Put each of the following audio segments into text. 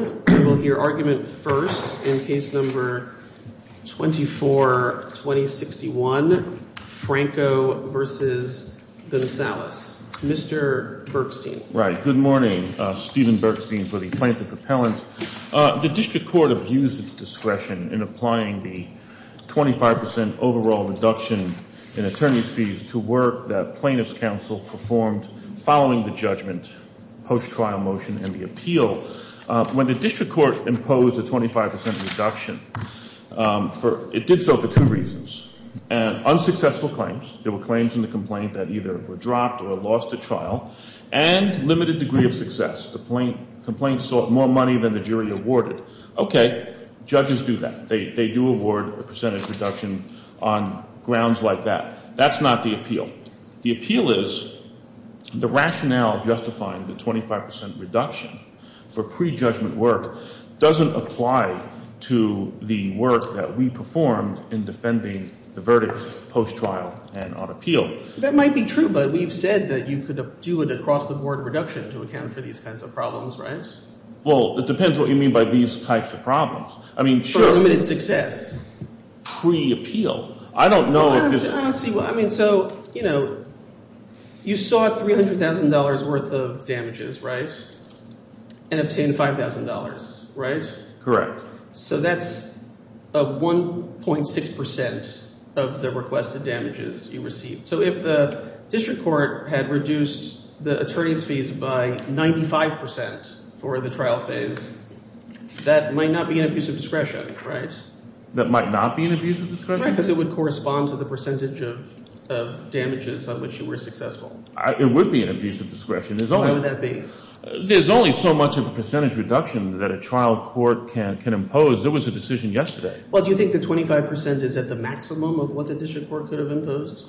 We will hear argument first in case number 24-2061, Franco v. Gonsalus. Mr. Bergstein. Right. Good morning. Stephen Bergstein for the Plaintiff Appellant. The District Court abused its discretion in applying the 25% overall reduction in attorney's fees to work that Plaintiff's Counsel performed following the judgment, post-trial motion, and the appeal. When the District Court imposed a 25% reduction, it did so for two reasons. Unsuccessful claims, there were claims in the complaint that either were dropped or lost at trial, and limited degree of success. The complaint sought more money than the jury awarded. Okay, judges do that. They do award a percentage reduction on grounds like that. That's not the appeal. The appeal is the rationale justifying the 25% reduction for pre-judgment work doesn't apply to the work that we performed in defending the verdict post-trial and on appeal. That might be true, but we've said that you could do an across-the-board reduction to account for these kinds of problems, right? Well, it depends what you mean by these types of problems. I mean, sure. For limited success. Pre-appeal. I don't know if this— I mean, so, you know, you sought $300,000 worth of damages, right, and obtained $5,000, right? Correct. So that's 1.6% of the requested damages you received. So if the District Court had reduced the attorney's fees by 95% for the trial phase, that might not be an abuse of discretion, right? That might not be an abuse of discretion? Because it would correspond to the percentage of damages on which you were successful. It would be an abuse of discretion. Why would that be? There's only so much of a percentage reduction that a trial court can impose. There was a decision yesterday. Well, do you think the 25% is at the maximum of what the District Court could have imposed?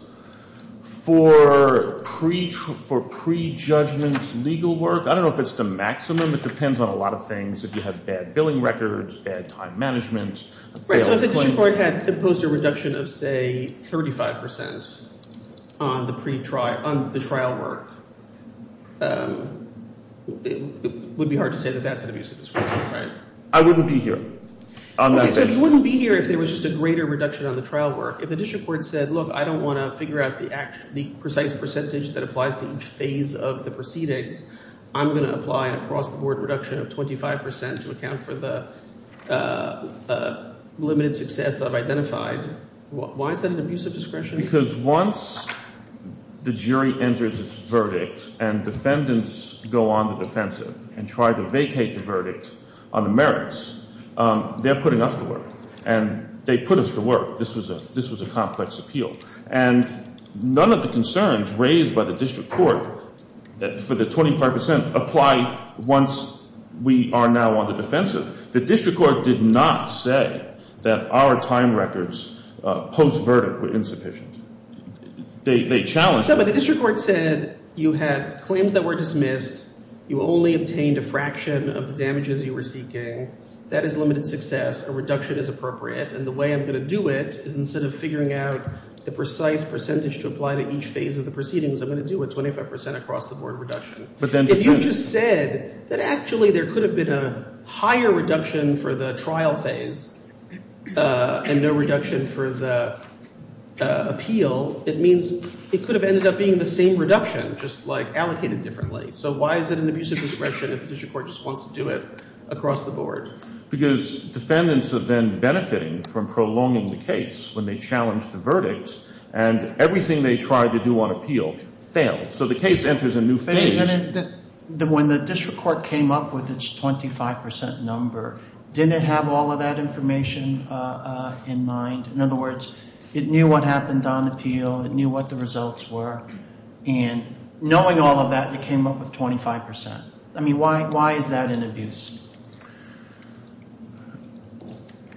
For pre-judgment legal work, I don't know if it's the maximum. It depends on a lot of things. If you have bad billing records, bad time management. Right, so if the District Court had imposed a reduction of, say, 35% on the trial work, it would be hard to say that that's an abuse of discretion, right? I wouldn't be here on that basis. Okay, so it wouldn't be here if there was just a greater reduction on the trial work. If the District Court said, look, I don't want to figure out the precise percentage that applies to each phase of the proceedings. I'm going to apply an across-the-board reduction of 25% to account for the limited success that I've identified. Why is that an abuse of discretion? Because once the jury enters its verdict and defendants go on the defensive and try to vacate the verdict on the merits, they're putting us to work. And they put us to work. This was a complex appeal. And none of the concerns raised by the District Court for the 25% apply once we are now on the defensive. The District Court did not say that our time records post-verdict were insufficient. They challenged us. No, but the District Court said you had claims that were dismissed. You only obtained a fraction of the damages you were seeking. That is limited success. A reduction is appropriate. And the way I'm going to do it is instead of figuring out the precise percentage to apply to each phase of the proceedings, I'm going to do a 25% across-the-board reduction. If you just said that actually there could have been a higher reduction for the trial phase and no reduction for the appeal, it means it could have ended up being the same reduction, just like allocated differently. So why is it an abusive discretion if the District Court just wants to do it across-the-board? Because defendants are then benefiting from prolonging the case when they challenge the verdict and everything they tried to do on appeal failed. So the case enters a new phase. When the District Court came up with its 25% number, didn't it have all of that information in mind? In other words, it knew what happened on appeal. It knew what the results were. And knowing all of that, it came up with 25%. I mean, why is that an abuse?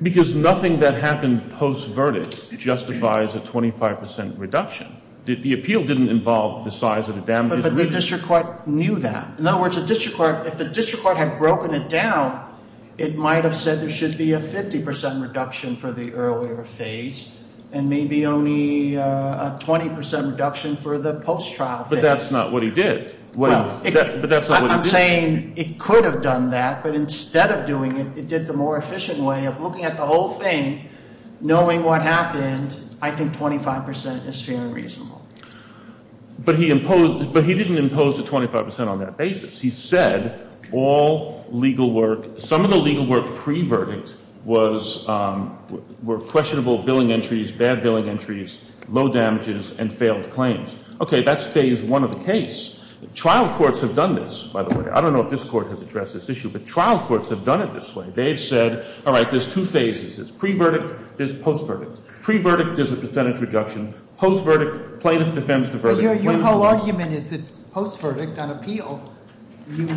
Because nothing that happened post-verdict justifies a 25% reduction. The appeal didn't involve the size of the damages. But the District Court knew that. In other words, if the District Court had broken it down, it might have said there should be a 50% reduction for the earlier phase and maybe only a 20% reduction for the post-trial phase. But that's not what he did. I'm saying it could have done that. But instead of doing it, it did the more efficient way of looking at the whole thing, knowing what happened. I think 25% is fairly reasonable. But he didn't impose a 25% on that basis. He said all legal work, some of the legal work pre-verdict was questionable billing entries, bad billing entries, low damages, and failed claims. Okay, that's phase one of the case. Trial courts have done this, by the way. I don't know if this Court has addressed this issue, but trial courts have done it this way. They've said, all right, there's two phases. There's pre-verdict, there's post-verdict. Pre-verdict, there's a percentage reduction. Post-verdict, plaintiff defends the verdict. Your whole argument is that post-verdict on appeal, you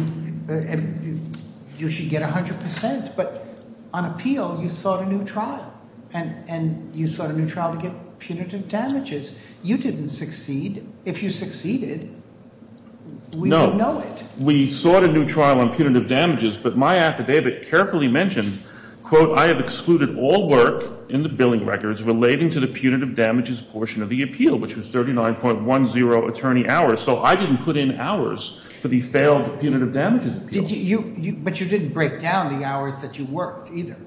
should get 100%. But on appeal, you sought a new trial, and you sought a new trial to get punitive damages. You didn't succeed. If you succeeded, we would know it. No. We sought a new trial on punitive damages, but my affidavit carefully mentioned, quote, I have excluded all work in the billing records relating to the punitive damages portion of the appeal, which was 39.10 attorney hours. So I didn't put in hours for the failed punitive damages appeal. But you didn't break down the hours that you worked either.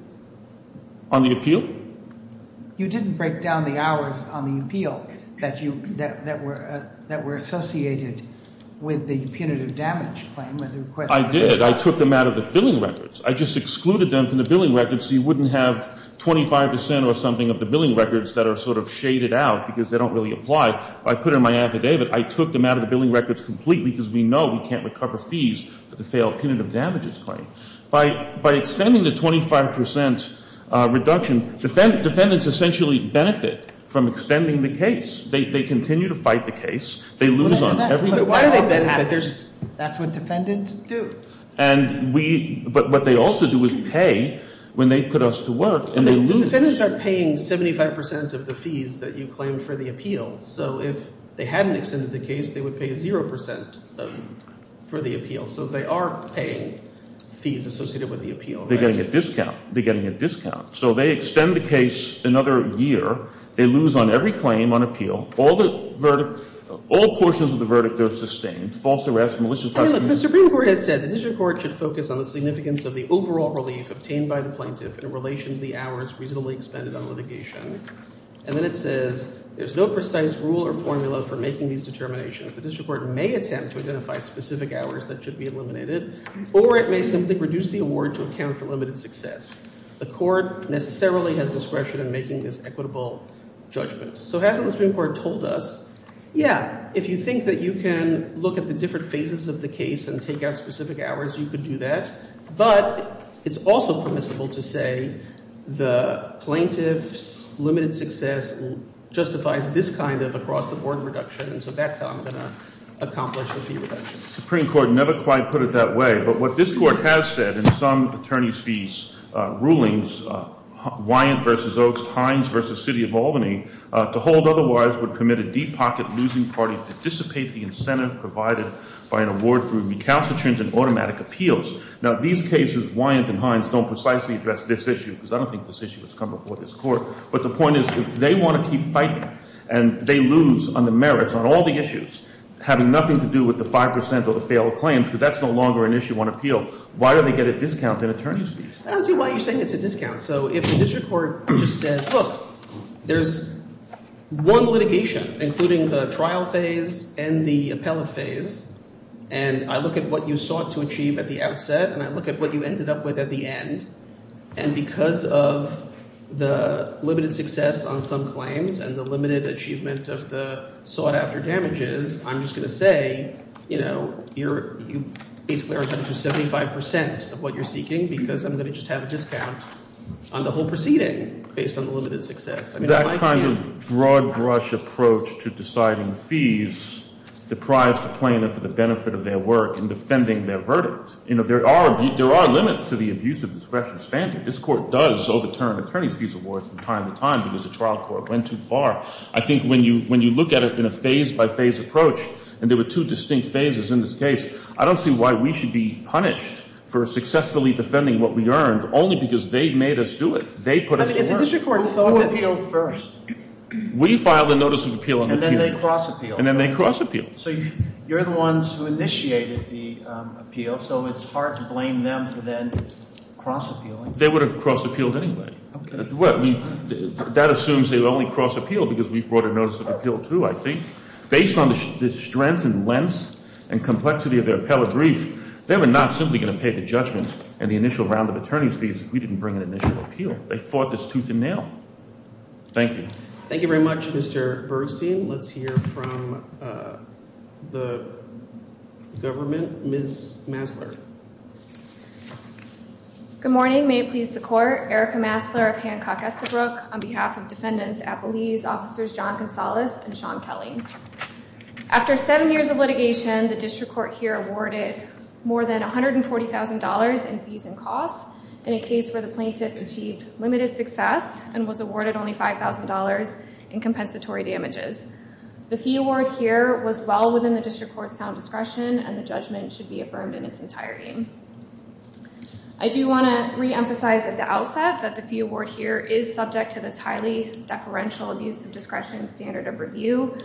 On the appeal? You didn't break down the hours on the appeal that were associated with the punitive damage claim. I did. I took them out of the billing records. I just excluded them from the billing records so you wouldn't have 25 percent or something of the billing records that are sort of shaded out because they don't really apply. I put it in my affidavit. I took them out of the billing records completely because we know we can't recover fees for the failed punitive damages claim. By extending the 25 percent reduction, defendants essentially benefit from extending the case. They continue to fight the case. They lose on every new trial. That's what defendants do. But what they also do is pay when they put us to work and they lose. The defendants are paying 75 percent of the fees that you claim for the appeal. So if they hadn't extended the case, they would pay zero percent for the appeal. So they are paying fees associated with the appeal. They're getting a discount. They're getting a discount. So they extend the case another year. They lose on every claim on appeal. All the verdicts, all portions of the verdict are sustained, false arrests, malicious The Supreme Court has said the district court should focus on the significance of the overall relief obtained by the plaintiff in relation to the hours reasonably expended on litigation. And then it says there's no precise rule or formula for making these determinations. The district court may attempt to identify specific hours that should be eliminated or it may simply reduce the award to account for limited success. The court necessarily has discretion in making this equitable judgment. So as the Supreme Court told us, yeah, if you think that you can look at the different phases of the case and take out specific hours, you could do that. But it's also permissible to say the plaintiff's limited success justifies this kind of across-the-board reduction. So that's how I'm going to accomplish the fee reduction. The Supreme Court never quite put it that way. But what this court has said in some attorney's fees rulings, Wyant v. Oaks, Hines v. City of Albany, to hold otherwise would commit a deep pocket losing party to dissipate the incentive provided by an award through recalcitrant and automatic appeals. Now, these cases, Wyant and Hines, don't precisely address this issue because I don't think this issue has come before this court. But the point is if they want to keep fighting and they lose on the merits on all the issues having nothing to do with the 5 percent of the failed claims because that's no longer an issue on appeal, why do they get a discount in attorney's fees? I don't see why you're saying it's a discount. So if the district court just said, look, there's one litigation, including the trial phase and the appellate phase, and I look at what you sought to achieve at the outset and I look at what you ended up with at the end, and because of the limited success on some claims and the limited achievement of the sought-after damages, I'm just going to say you basically are entitled to 75 percent of what you're seeking because I'm going to just have a discount on the whole proceeding based on the limited success. That kind of broad-brush approach to deciding fees deprives the plaintiff of the benefit of their work in defending their verdict. There are limits to the abuse of discretion standard. This Court does overturn attorney's fees awards from time to time because the trial court went too far. I think when you look at it in a phase-by-phase approach, and there were two distinct phases in this case, I don't see why we should be punished for successfully defending what we earned only because they made us do it. They put us to work. Who appealed first? We filed a notice of appeal on the appeal. And then they cross-appealed. And then they cross-appealed. So you're the ones who initiated the appeal, so it's hard to blame them for then cross-appealing. They would have cross-appealed anyway. Okay. That assumes they only cross-appealed because we brought a notice of appeal, too, I think. Based on the strength and length and complexity of their appellate brief, they were not simply going to pay the judgment in the initial round of attorney's fees if we didn't bring an initial appeal. They fought this tooth and nail. Thank you. Thank you very much, Mr. Bergstein. Let's hear from the government. Ms. Masler. Good morning. May it please the Court. Erica Masler of Hancock-Estabrook on behalf of Defendants Appleby's Officers John Gonzalez and Sean Kelly. After seven years of litigation, the district court here awarded more than $140,000 in fees and costs in a case where the plaintiff achieved limited success and was awarded only $5,000 in compensatory damages. The fee award here was well within the district court's sound discretion, and the judgment should be affirmed in its entirety. I do want to reemphasize at the outset that the fee award here is subject to this highly deferential abuse of discretion standard of review.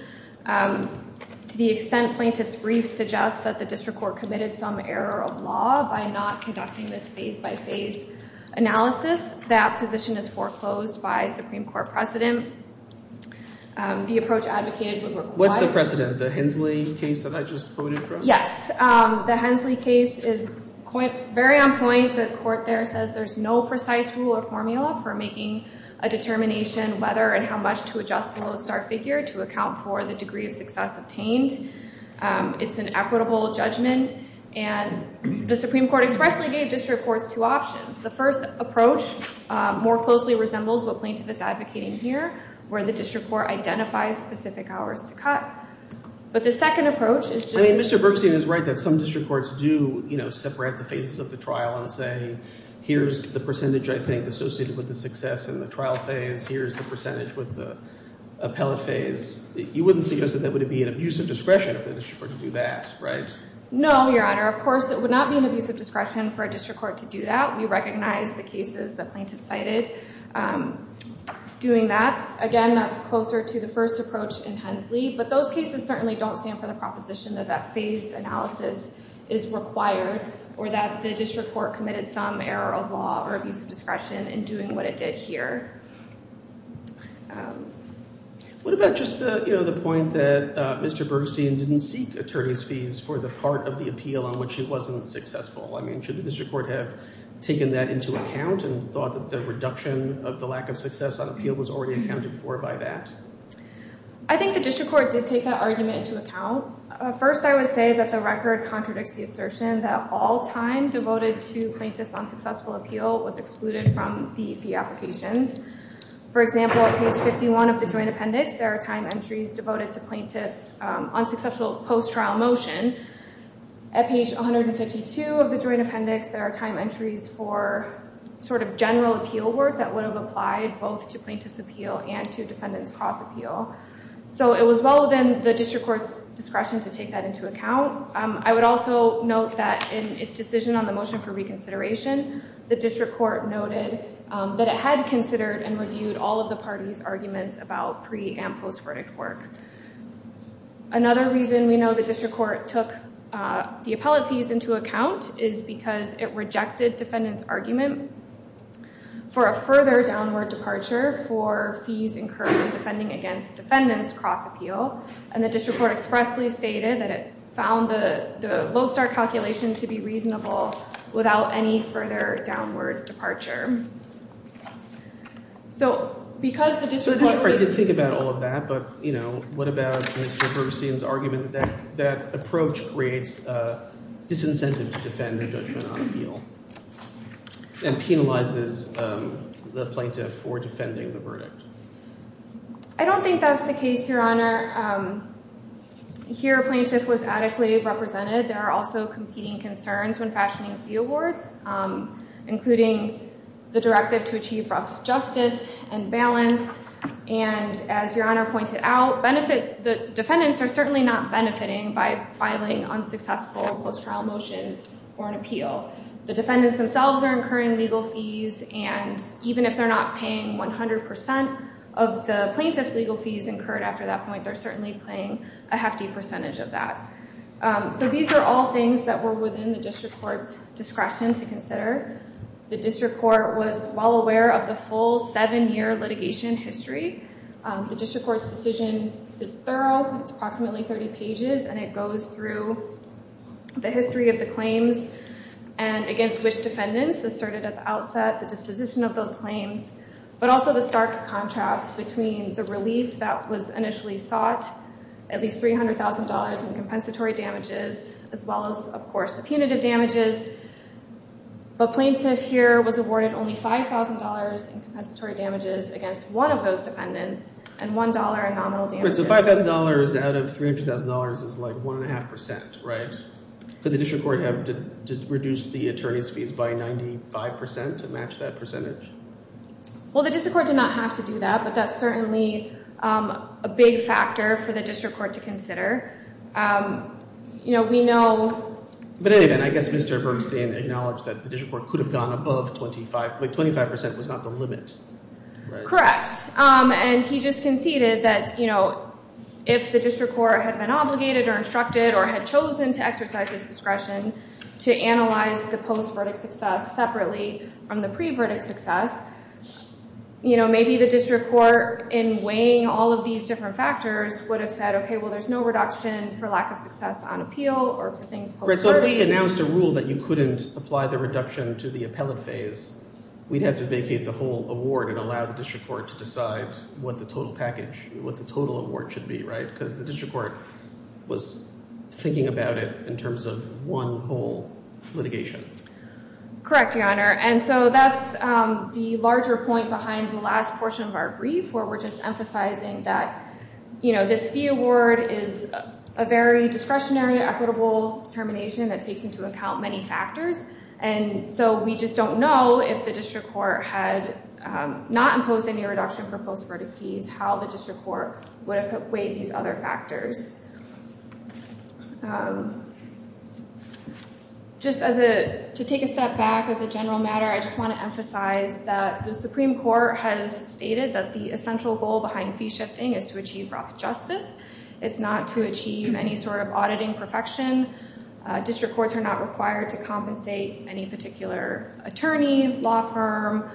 To the extent plaintiff's brief suggests that the district court committed some error of its phase-by-phase analysis, that position is foreclosed by Supreme Court precedent. The approach advocated would require— What's the precedent? The Hensley case that I just quoted from? Yes. The Hensley case is very on point. The court there says there's no precise rule or formula for making a determination whether and how much to adjust the low-star figure to account for the degree of success obtained. It's an equitable judgment, and the Supreme Court expressly gave district courts two options. The first approach more closely resembles what plaintiff is advocating here, where the district court identifies specific hours to cut. But the second approach is just— I mean, Mr. Bergstein is right that some district courts do separate the phases of the trial and say, here's the percentage, I think, associated with the success in the trial phase. Here's the percentage with the appellate phase. You wouldn't suggest that that would be an abusive discretion for the district court to do that, right? No, Your Honor. Of course, it would not be an abusive discretion for a district court to do that. We recognize the cases the plaintiff cited doing that. Again, that's closer to the first approach in Hensley. But those cases certainly don't stand for the proposition that that phased analysis is required or that the district court committed some error of law or abusive discretion in doing what it did here. What about just the point that Mr. Bergstein didn't seek attorney's fees for the part of the appeal on which it wasn't successful? I mean, should the district court have taken that into account and thought that the reduction of the lack of success on appeal was already accounted for by that? I think the district court did take that argument into account. First, I would say that the record contradicts the assertion that all time devoted to plaintiffs on successful appeal was excluded from the fee applications. For example, at page 51 of the joint appendix, there are time entries devoted to plaintiffs on successful post-trial motion. At page 152 of the joint appendix, there are time entries for sort of general appeal work that would have applied both to plaintiff's appeal and to defendant's cross appeal. So it was well within the district court's discretion to take that into account. I would also note that in its decision on the motion for reconsideration, the district court noted that it had considered and reviewed all of the party's arguments about pre- and post-verdict work. Another reason we know the district court took the appellate fees into account is because it rejected defendant's argument for a further downward departure for fees incurred in defending against defendant's cross appeal. And the district court expressly stated that it found the Lowe-Starr calculation to be reasonable without any further downward departure. So because the district court— So the district court did think about all of that, but what about Mr. Bergstein's argument that that approach creates disincentive to defend the judgment on appeal and penalizes the plaintiff for defending the verdict? I don't think that's the case, Your Honor. Here, a plaintiff was adequately represented. There are also competing concerns when fashioning fee awards, including the directive to achieve rough justice and balance. And as Your Honor pointed out, the defendants are certainly not benefiting by filing unsuccessful post-trial motions for an appeal. The defendants themselves are incurring legal fees, and even if they're not paying 100% of the plaintiff's legal fees incurred after that point, they're certainly paying a hefty percentage of that. So these are all things that were within the district court's discretion to consider. The district court was well aware of the full seven-year litigation history. The district court's decision is thorough. It's approximately 30 pages, and it goes through the history of the claims and against which defendants asserted at the outset, the disposition of those claims, but also the stark contrast between the relief that was initially sought, at least $300,000 in compensatory damages, as well as, of course, the punitive damages. But plaintiff here was awarded only $5,000 in compensatory damages against one of those defendants and $1 in nominal damages. So $5,000 out of $300,000 is like 1.5%, right? Could the district court have reduced the attorney's fees by 95% to match that percentage? Well, the district court did not have to do that, but that's certainly a big factor for the district court to consider. We know— But anyway, I guess Mr. Bernstein acknowledged that the district court could have gone above 25. Like 25% was not the limit, right? Correct, and he just conceded that if the district court had been obligated or instructed or had chosen to exercise its discretion to analyze the post-verdict success separately from the pre-verdict success, maybe the district court, in weighing all of these different factors, would have said, okay, well, there's no reduction for lack of success on appeal or for things post-verdict. Right, so if we announced a rule that you couldn't apply the reduction to the appellate phase, we'd have to vacate the whole award and allow the district court to decide what the total award should be, right? Because the district court was thinking about it in terms of one whole litigation. Correct, Your Honor, and so that's the larger point behind the last portion of our brief, where we're just emphasizing that this fee award is a very discretionary, equitable determination that takes into account many factors, and so we just don't know if the district court had not imposed any reduction for post-verdict fees how the district court would have weighed these other factors. Just to take a step back as a general matter, I just want to emphasize that the Supreme Court has stated that the essential goal behind fee shifting is to achieve rough justice. It's not to achieve any sort of auditing perfection. District courts are not required to compensate any particular attorney, law firm,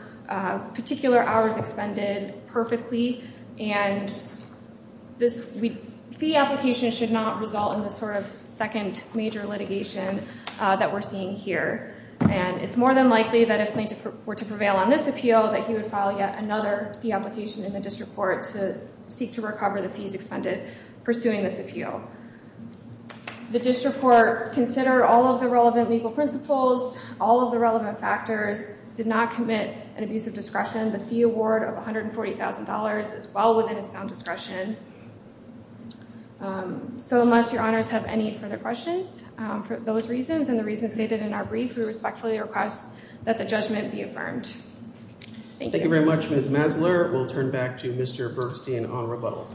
particular hours expended perfectly, and this fee application should not result in the sort of second major litigation that we're seeing here, and it's more than likely that if plaintiff were to prevail on this appeal that he would file yet another fee application in the district court to seek to recover the fees expended pursuing this appeal. The district court considered all of the relevant legal principles, all of the relevant factors, did not commit an abuse of discretion. The fee award of $140,000 is well within its sound discretion. So unless Your Honors have any further questions for those reasons and the reasons stated in our brief, we respectfully request that the judgment be affirmed. Thank you very much, Ms. Masler. We'll turn back to Mr. Bergstein on rebuttal.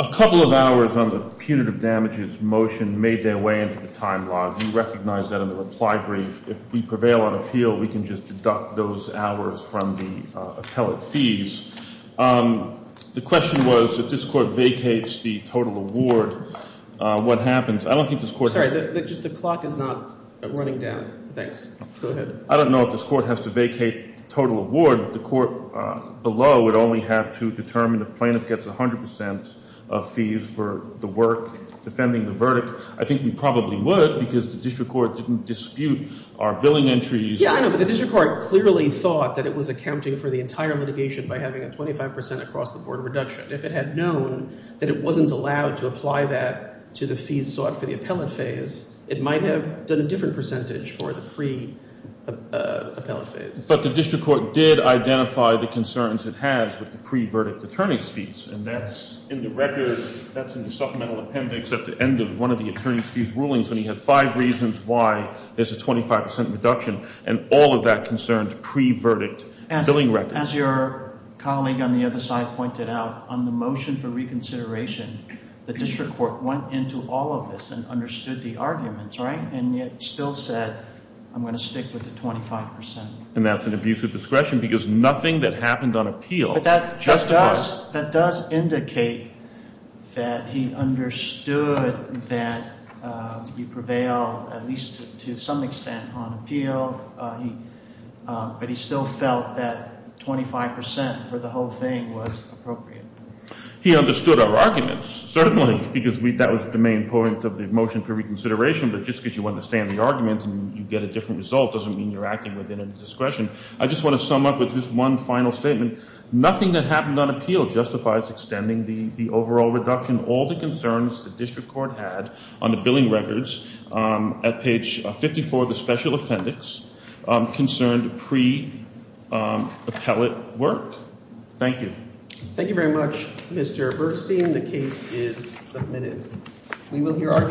A couple of hours on the punitive damages motion made their way into the time log. You recognize that in the reply brief. If we prevail on appeal, we can just deduct those hours from the appellate fees. The question was, if this court vacates the total award, what happens? I don't think this court has— Sorry, just the clock is not running down. Thanks. Go ahead. I don't know if this court has to vacate the total award. The court below would only have to determine if plaintiff gets 100 percent of fees for the work defending the verdict. I think we probably would because the district court didn't dispute our billing entries. Yeah, I know, but the district court clearly thought that it was accounting for the entire litigation by having a 25 percent across-the-board reduction. If it had known that it wasn't allowed to apply that to the fees sought for the appellate phase, it might have done a different percentage for the pre-appellate phase. But the district court did identify the concerns it has with the pre-verdict attorney's fees, and that's in the record— that's in the supplemental appendix at the end of one of the attorney's fees rulings when he had five reasons why there's a 25 percent reduction and all of that concerned pre-verdict billing records. As your colleague on the other side pointed out, on the motion for reconsideration, the district court went into all of this and understood the arguments, right? And yet still said, I'm going to stick with the 25 percent. And that's an abuse of discretion because nothing that happened on appeal justified. That does indicate that he understood that he prevailed, at least to some extent, on appeal. But he still felt that 25 percent for the whole thing was appropriate. He understood our arguments, certainly, because that was the main point of the motion for reconsideration. But just because you understand the argument and you get a different result doesn't mean you're acting within a discretion. I just want to sum up with this one final statement. Nothing that happened on appeal justifies extending the overall reduction. All the concerns the district court had on the billing records at page 54 of the special appendix concerned pre-appellate work. Thank you. Thank you very much, Mr. Bergstein. The case is submitted.